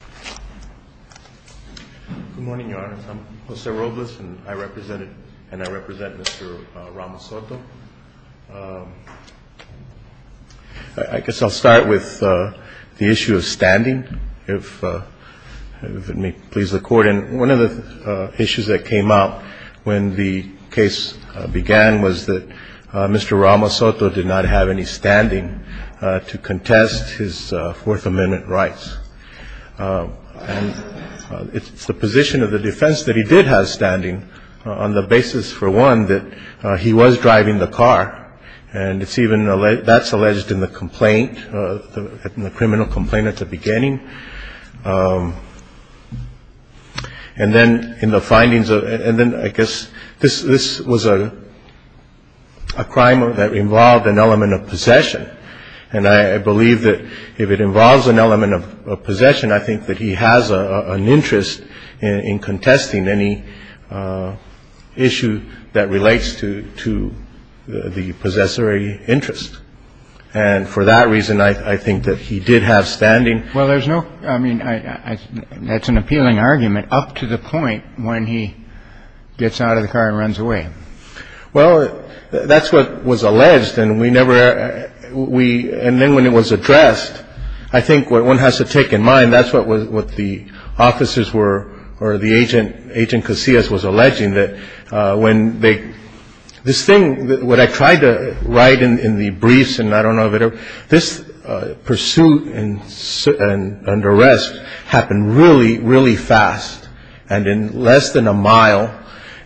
Good morning, Your Honor. I'm Jose Robles, and I represent Mr. Ramos-Soto. I guess I'll start with the issue of standing, if it may please the Court. And one of the issues that came up when the case began was that Mr. Ramos-Soto did not have any standing to contest his Fourth Amendment rights. And it's the position of the defense that he did have standing on the basis, for one, that he was driving the car. And it's even that's alleged in the complaint, the criminal complaint at the beginning. And then in the findings of and then I guess this this was a crime that involved an element of possession. And I believe that if it involves an element of possession, I think that he has an interest in contesting any issue that relates to the possessory interest. And for that reason, I think that he did have standing. Well, there's no I mean, that's an appealing argument up to the point when he gets out of the car and runs away. Well, that's what was alleged. And we never we and then when it was addressed, I think what one has to take in mind, that's what was what the officers were or the agent. Agent Casillas was alleging that when they this thing what I tried to write in the briefs and I don't know that this pursuit and arrest happened really, really fast and in less than a mile.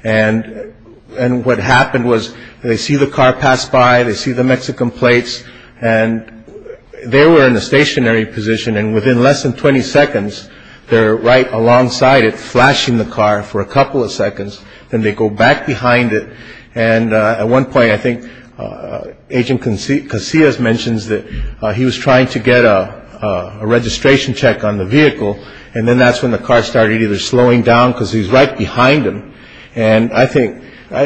And and what happened was they see the car pass by. They see the Mexican plates and they were in a stationary position. And within less than 20 seconds, they're right alongside it, flashing the car for a couple of seconds. Then they go back behind it. And at one point, I think Agent Conceit Casillas mentions that he was trying to get a registration check on the vehicle. And then that's when the car started either slowing down because he's right behind him. And I think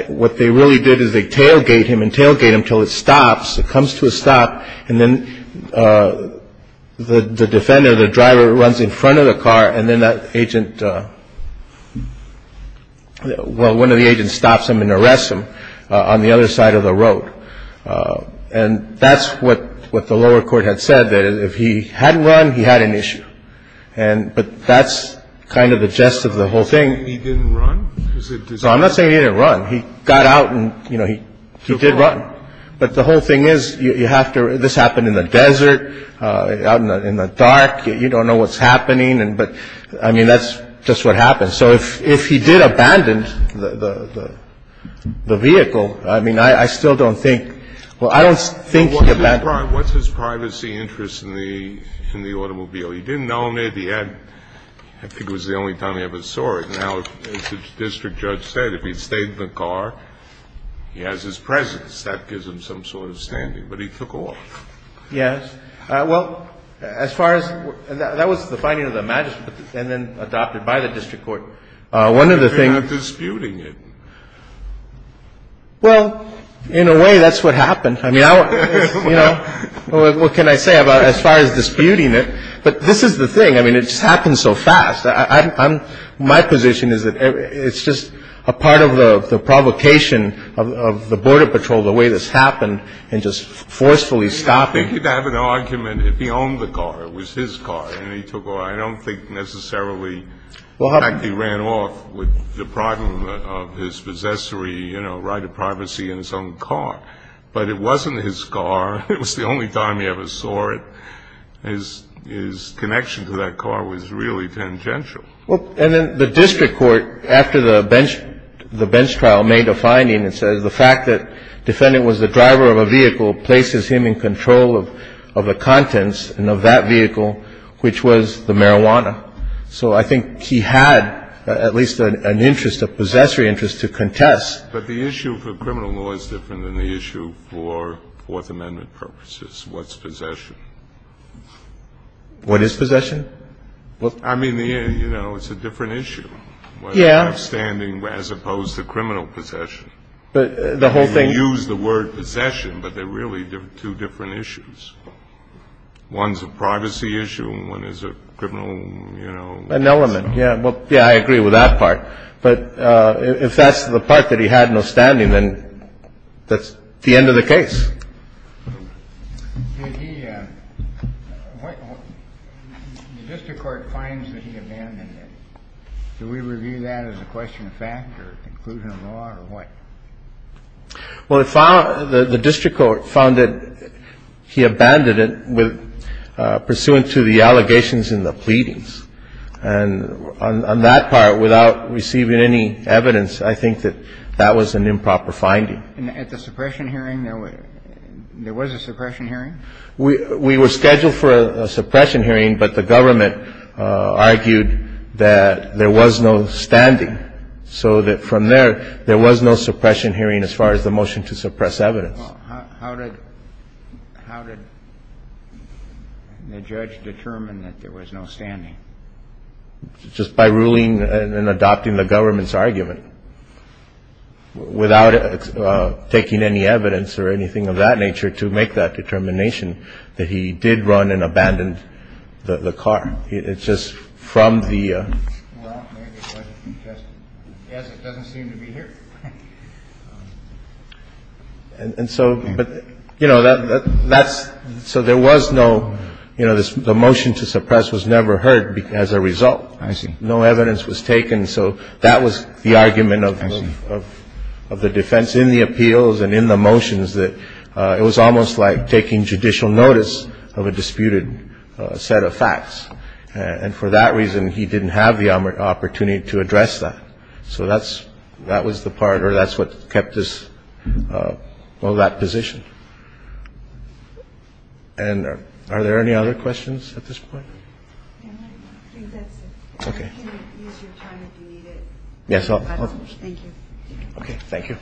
what they really did is they tailgate him and tailgate him till it stops. It comes to a stop. And then the defendant, the driver runs in front of the car. And then that agent. Well, one of the agents stops him and arrests him on the other side of the road. And that's what what the lower court had said, that if he hadn't run, he had an issue. And but that's kind of the gist of the whole thing. He didn't run. I'm not saying he didn't run. He got out and, you know, he he did run. But the whole thing is you have to. This happened in the desert, in the dark. You don't know what's happening. And but I mean, that's just what happened. So if he did abandon the vehicle, I mean, I still don't think. Well, I don't think he abandoned. What's his privacy interest in the in the automobile? He didn't own it. He had I think it was the only time he ever saw it. Now, as the district judge said, if he stayed in the car, he has his presence. That gives him some sort of standing. But he took off. Yes. Well, as far as that was the finding of the magistrate and then adopted by the district court. One of the things disputing it. Well, in a way, that's what happened. I mean, you know, what can I say about as far as disputing it? But this is the thing. I mean, it just happened so fast. I'm my position is that it's just a part of the provocation of the Border Patrol, the way this happened and just forcefully stopping. You'd have an argument if he owned the car. It was his car. And he took off. I don't think necessarily he ran off with the problem of his possessory, you know, right of privacy in his own car. But it wasn't his car. It was the only time he ever saw it. His his connection to that car was really tangential. Well, and then the district court, after the bench the bench trial, made a finding that says the fact that defendant was the driver of a vehicle places him in control of the contents and of that vehicle, which was the marijuana. So I think he had at least an interest, a possessory interest to contest. But the issue for criminal law is different than the issue for Fourth Amendment purposes. What's possession? What is possession? Well, I mean, you know, it's a different issue. Yeah. Standing as opposed to criminal possession. But the whole thing. Use the word possession. But they're really two different issues. One's a privacy issue and one is a criminal, you know, an element. Yeah. Well, yeah, I agree with that part. But if that's the part that he had no standing, then that's the end of the case. The district court finds that he abandoned it. Do we review that as a question of fact or conclusion of law or what? Well, the district court found that he abandoned it pursuant to the allegations in the pleadings. And on that part, without receiving any evidence, I think that that was an improper finding. At the suppression hearing, there was a suppression hearing? We were scheduled for a suppression hearing, but the government argued that there was no standing, so that from there, there was no suppression hearing as far as the motion to suppress evidence. How did the judge determine that there was no standing? Just by ruling and adopting the government's argument. Without taking any evidence or anything of that nature to make that determination that he did run and abandoned the car. It's just from the ---- Well, maybe it wasn't suggested. Yes, it doesn't seem to be here. And so, but, you know, that's so there was no, you know, the motion to suppress was never heard as a result. I see. No evidence was taken. So that was the argument of the defense in the appeals and in the motions that it was almost like taking judicial notice of a disputed set of facts. And for that reason, he didn't have the opportunity to address that. So that's, that was the part or that's what kept this, well, that position. And are there any other questions at this point? I think that's it. Okay. You can use your time if you need it. Yes. Thank you. Okay. Thank you.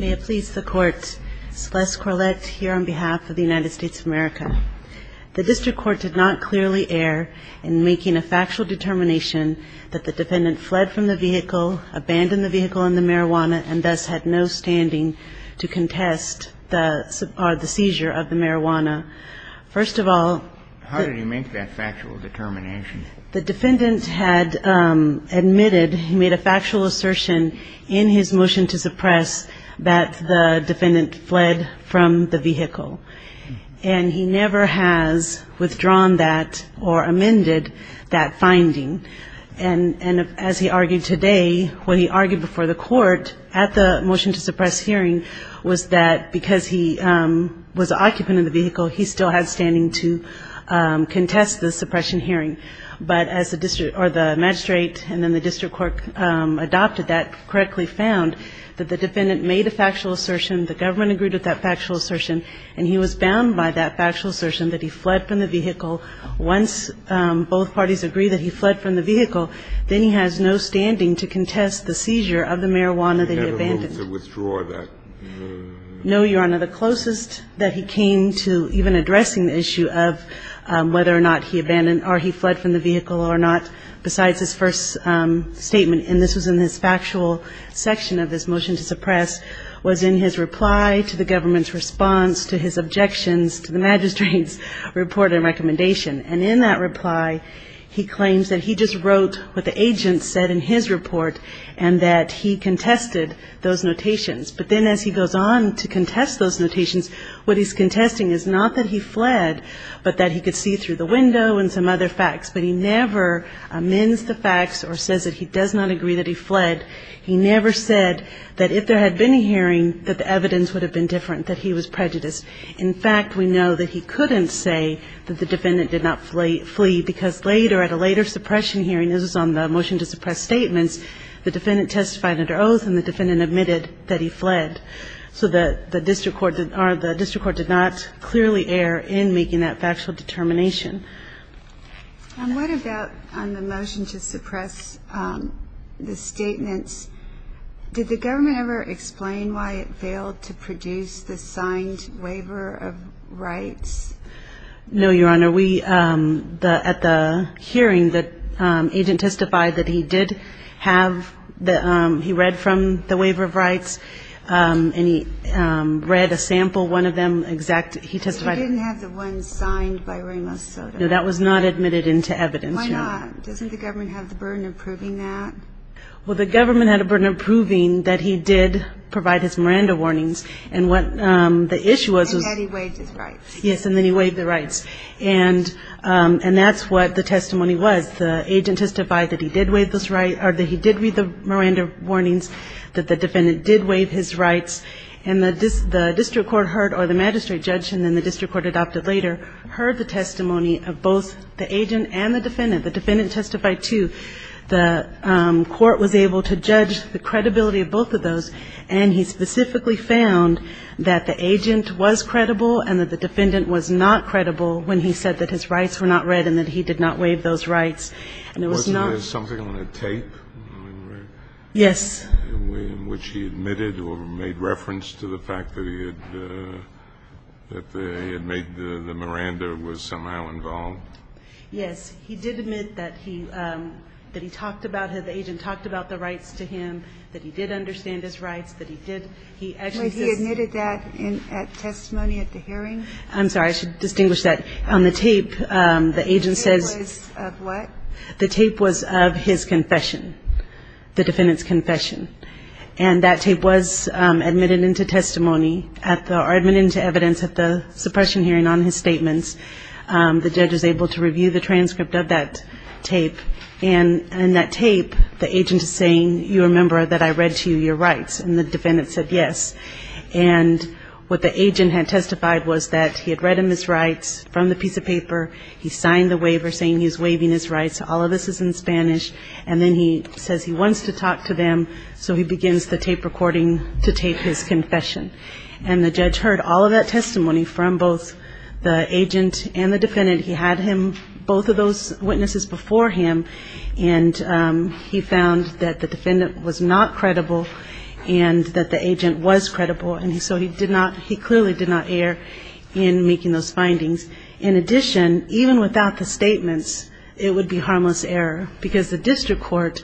May it please the Court, Celeste Corlett here on behalf of the United States of America. The district court did not clearly err in making a factual determination that the defendant fled from the vehicle, abandoned the vehicle and the marijuana and thus had no standing to contest the seizure of the marijuana. First of all ---- How did he make that factual determination? The defendant had admitted, he made a factual assertion in his motion to suppress that the defendant fled from the vehicle. And he never has withdrawn that or amended that finding. And as he argued today, when he argued before the court at the motion to suppress hearing, was that because he was the occupant of the vehicle, he still had standing to contest the suppression hearing. But as the magistrate and then the district court adopted that, correctly found that the defendant made a factual assertion, the government agreed with that factual assertion, and he was bound by that factual assertion that he fled from the vehicle. Once both parties agreed that he fled from the vehicle, then he has no standing to contest the seizure of the marijuana that he abandoned. He never moved to withdraw that? No, Your Honor. The closest that he came to even addressing the issue of whether or not he abandoned or he fled from the vehicle or not, besides his first statement, and this was in his factual section of his motion to suppress, was in his reply to the government's response to his objections to the magistrate's report and recommendation. And in that reply, he claims that he just wrote what the agent said in his report and that he contested those notations. But then as he goes on to contest those notations, what he's contesting is not that he fled, but that he could see through the window and some other facts. But he never amends the facts or says that he does not agree that he fled. He never said that if there had been a hearing, that the evidence would have been different, that he was prejudiced. In fact, we know that he couldn't say that the defendant did not flee because later, at a later suppression hearing, this was on the motion to suppress statements, the defendant testified under oath and the defendant admitted that he fled. So the district court did not clearly err in making that factual determination. And what about on the motion to suppress the statements, did the government ever explain why it failed to produce the signed waiver of rights? No, Your Honor. We, at the hearing, the agent testified that he did have the, he read from the waiver of rights and he read a sample, one of them, exact. He didn't have the one signed by Ramos Soto. No, that was not admitted into evidence, Your Honor. Why not? Doesn't the government have the burden of proving that? Well, the government had a burden of proving that he did provide his Miranda warnings. And what the issue was. And that he waived his rights. Yes, and then he waived the rights. And that's what the testimony was. The agent testified that he did read the Miranda warnings, that the defendant did waive his rights. And the district court heard, or the magistrate judged, and then the district court adopted later, heard the testimony of both the agent and the defendant. The defendant testified too. The court was able to judge the credibility of both of those. And he specifically found that the agent was credible and that the defendant was not credible when he said that his rights were not read and that he did not waive those rights. And it was not. Wasn't there something on a tape? Yes. In which he admitted or made reference to the fact that he had made the Miranda was somehow involved? Yes. He did admit that he talked about it. The agent talked about the rights to him, that he did understand his rights, that he did. He admitted that at testimony at the hearing. I'm sorry. I should distinguish that. On the tape, the agent says. The tape was of what? The tape was of his confession. The defendant's confession. And that tape was admitted into testimony, or admitted into evidence at the suppression hearing on his statements. The judge was able to review the transcript of that tape. And in that tape, the agent is saying, you remember that I read to you your rights. And the defendant said yes. And what the agent had testified was that he had read him his rights from the piece of paper. He signed the waiver saying he was waiving his rights. All of this is in Spanish. And then he says he wants to talk to them, so he begins the tape recording to tape his confession. And the judge heard all of that testimony from both the agent and the defendant. He had him, both of those witnesses before him, and he found that the defendant was not credible and that the agent was credible. And so he clearly did not err in making those findings. In addition, even without the statements, it would be harmless error because the district court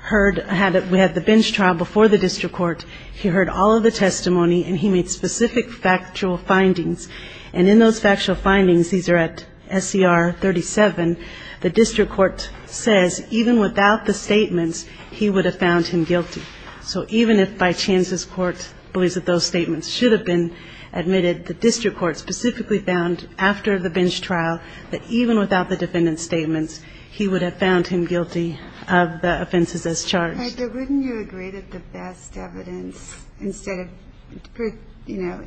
had the bench trial before the district court. He heard all of the testimony, and he made specific factual findings. And in those factual findings, these are at SCR 37, the district court says even without the statements, he would have found him guilty. So even if by chance this court believes that those statements should have been admitted, the district court specifically found after the bench trial that even without the defendant's statements, he would have found him guilty of the offenses as charged. But wouldn't you agree that the best evidence instead of, you know,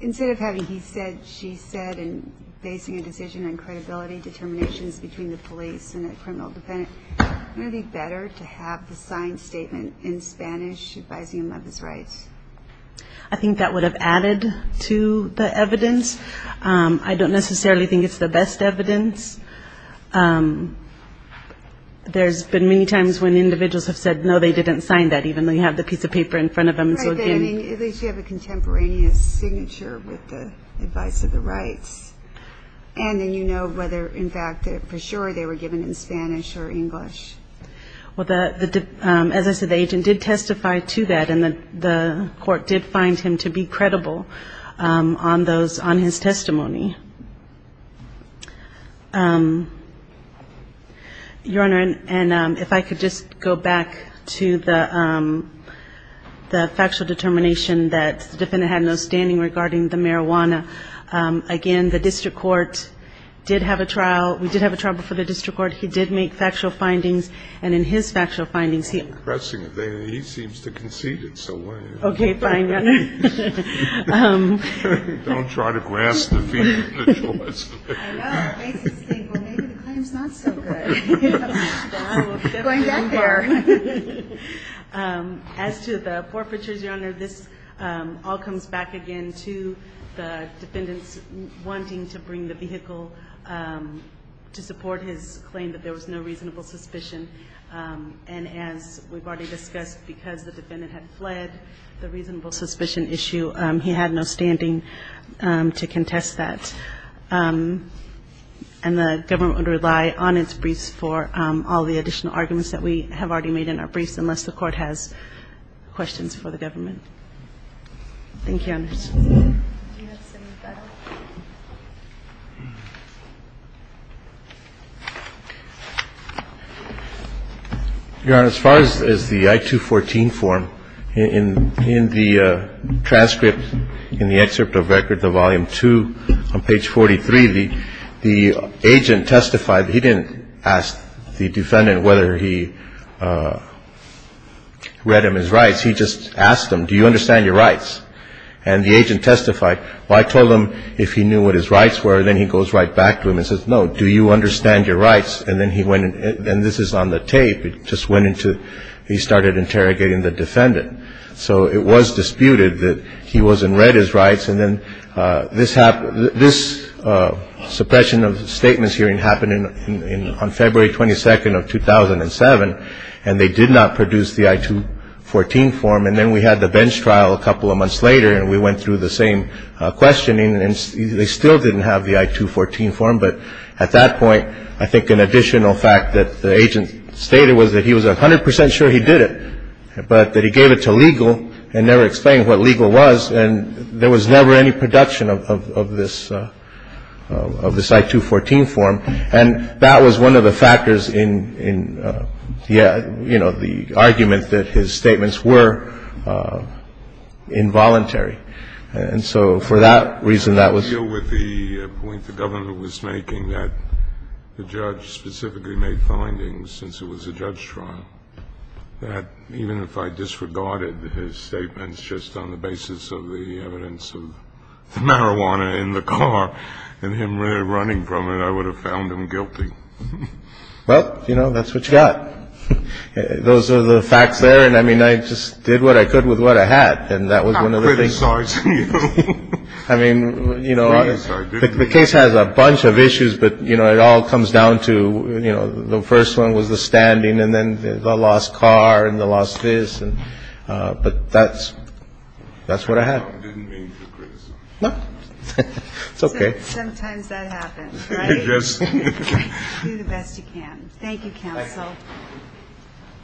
instead of having he said, she said, and basing a decision on credibility determinations between the police and a criminal defendant, wouldn't it be better to have the signed statement in Spanish advising him of his rights? I don't necessarily think it's the best evidence. There's been many times when individuals have said, no, they didn't sign that, even though you have the piece of paper in front of them. At least you have a contemporaneous signature with the advice of the rights. And then you know whether, in fact, for sure they were given in Spanish or English. Well, as I said, the agent did testify to that, and the court did find him to be credible on those, on his testimony. Your Honor, and if I could just go back to the factual determination that the defendant had no standing regarding the marijuana. Again, the district court did have a trial. We did have a trial before the district court. He did make factual findings. And in his factual findings, he. I'm not pressing it. He seems to concede it, so. Okay, fine. Don't try to grasp the feeling. I know. Maybe the claim's not so good. Going back there. As to the forfeitures, Your Honor, this all comes back again to the defendants wanting to bring the vehicle to support his claim that there was no reasonable suspicion. And as we've already discussed, because the defendant had fled the reasonable suspicion issue, he had no standing to contest that. And the government would rely on its briefs for all the additional arguments that we have already made in our briefs, unless the court has questions for the government. Thank you, Your Honor. Do you have something better? Your Honor, as far as the I-214 form, in the transcript, in the excerpt of Record 2, Volume 2, on page 43, the agent testified he didn't ask the defendant whether he read him his rights. He just asked him, do you understand your rights? And the agent testified, well, I told him if he knew what his rights were. Then he goes right back to him and says, no, do you understand your rights? And then he went, and this is on the tape, it just went into, he started interrogating the defendant. So it was disputed that he wasn't read his rights. And then this suppression of statements hearing happened on February 22nd of 2007, and they did not produce the I-214 form. And then we had the bench trial a couple of months later, and we went through the same questioning, and they still didn't have the I-214 form. But at that point, I think an additional fact that the agent stated was that he was 100 percent sure he did it, but that he gave it to legal and never explained what legal was, and there was never any production of this I-214 form. And that was one of the factors in, you know, the argument that his statements were involuntary. And so for that reason, that was the point the government was making, that the judge specifically made findings since it was a judge trial, that even if I disregarded his statements just on the basis of the evidence of the marijuana in the car and him running from it, I would have found him guilty. Well, you know, that's what you got. Those are the facts there. And, I mean, I just did what I could with what I had. And that was one of the things. I'm not criticizing you. I mean, you know, the case has a bunch of issues, but, you know, it all comes down to, you know, the first one was the standing and then the lost car and the lost this. But that's what I have. I didn't mean to criticize you. No. It's okay. Sometimes that happens, right? Yes. Do the best you can. Thank you, counsel. Thank you.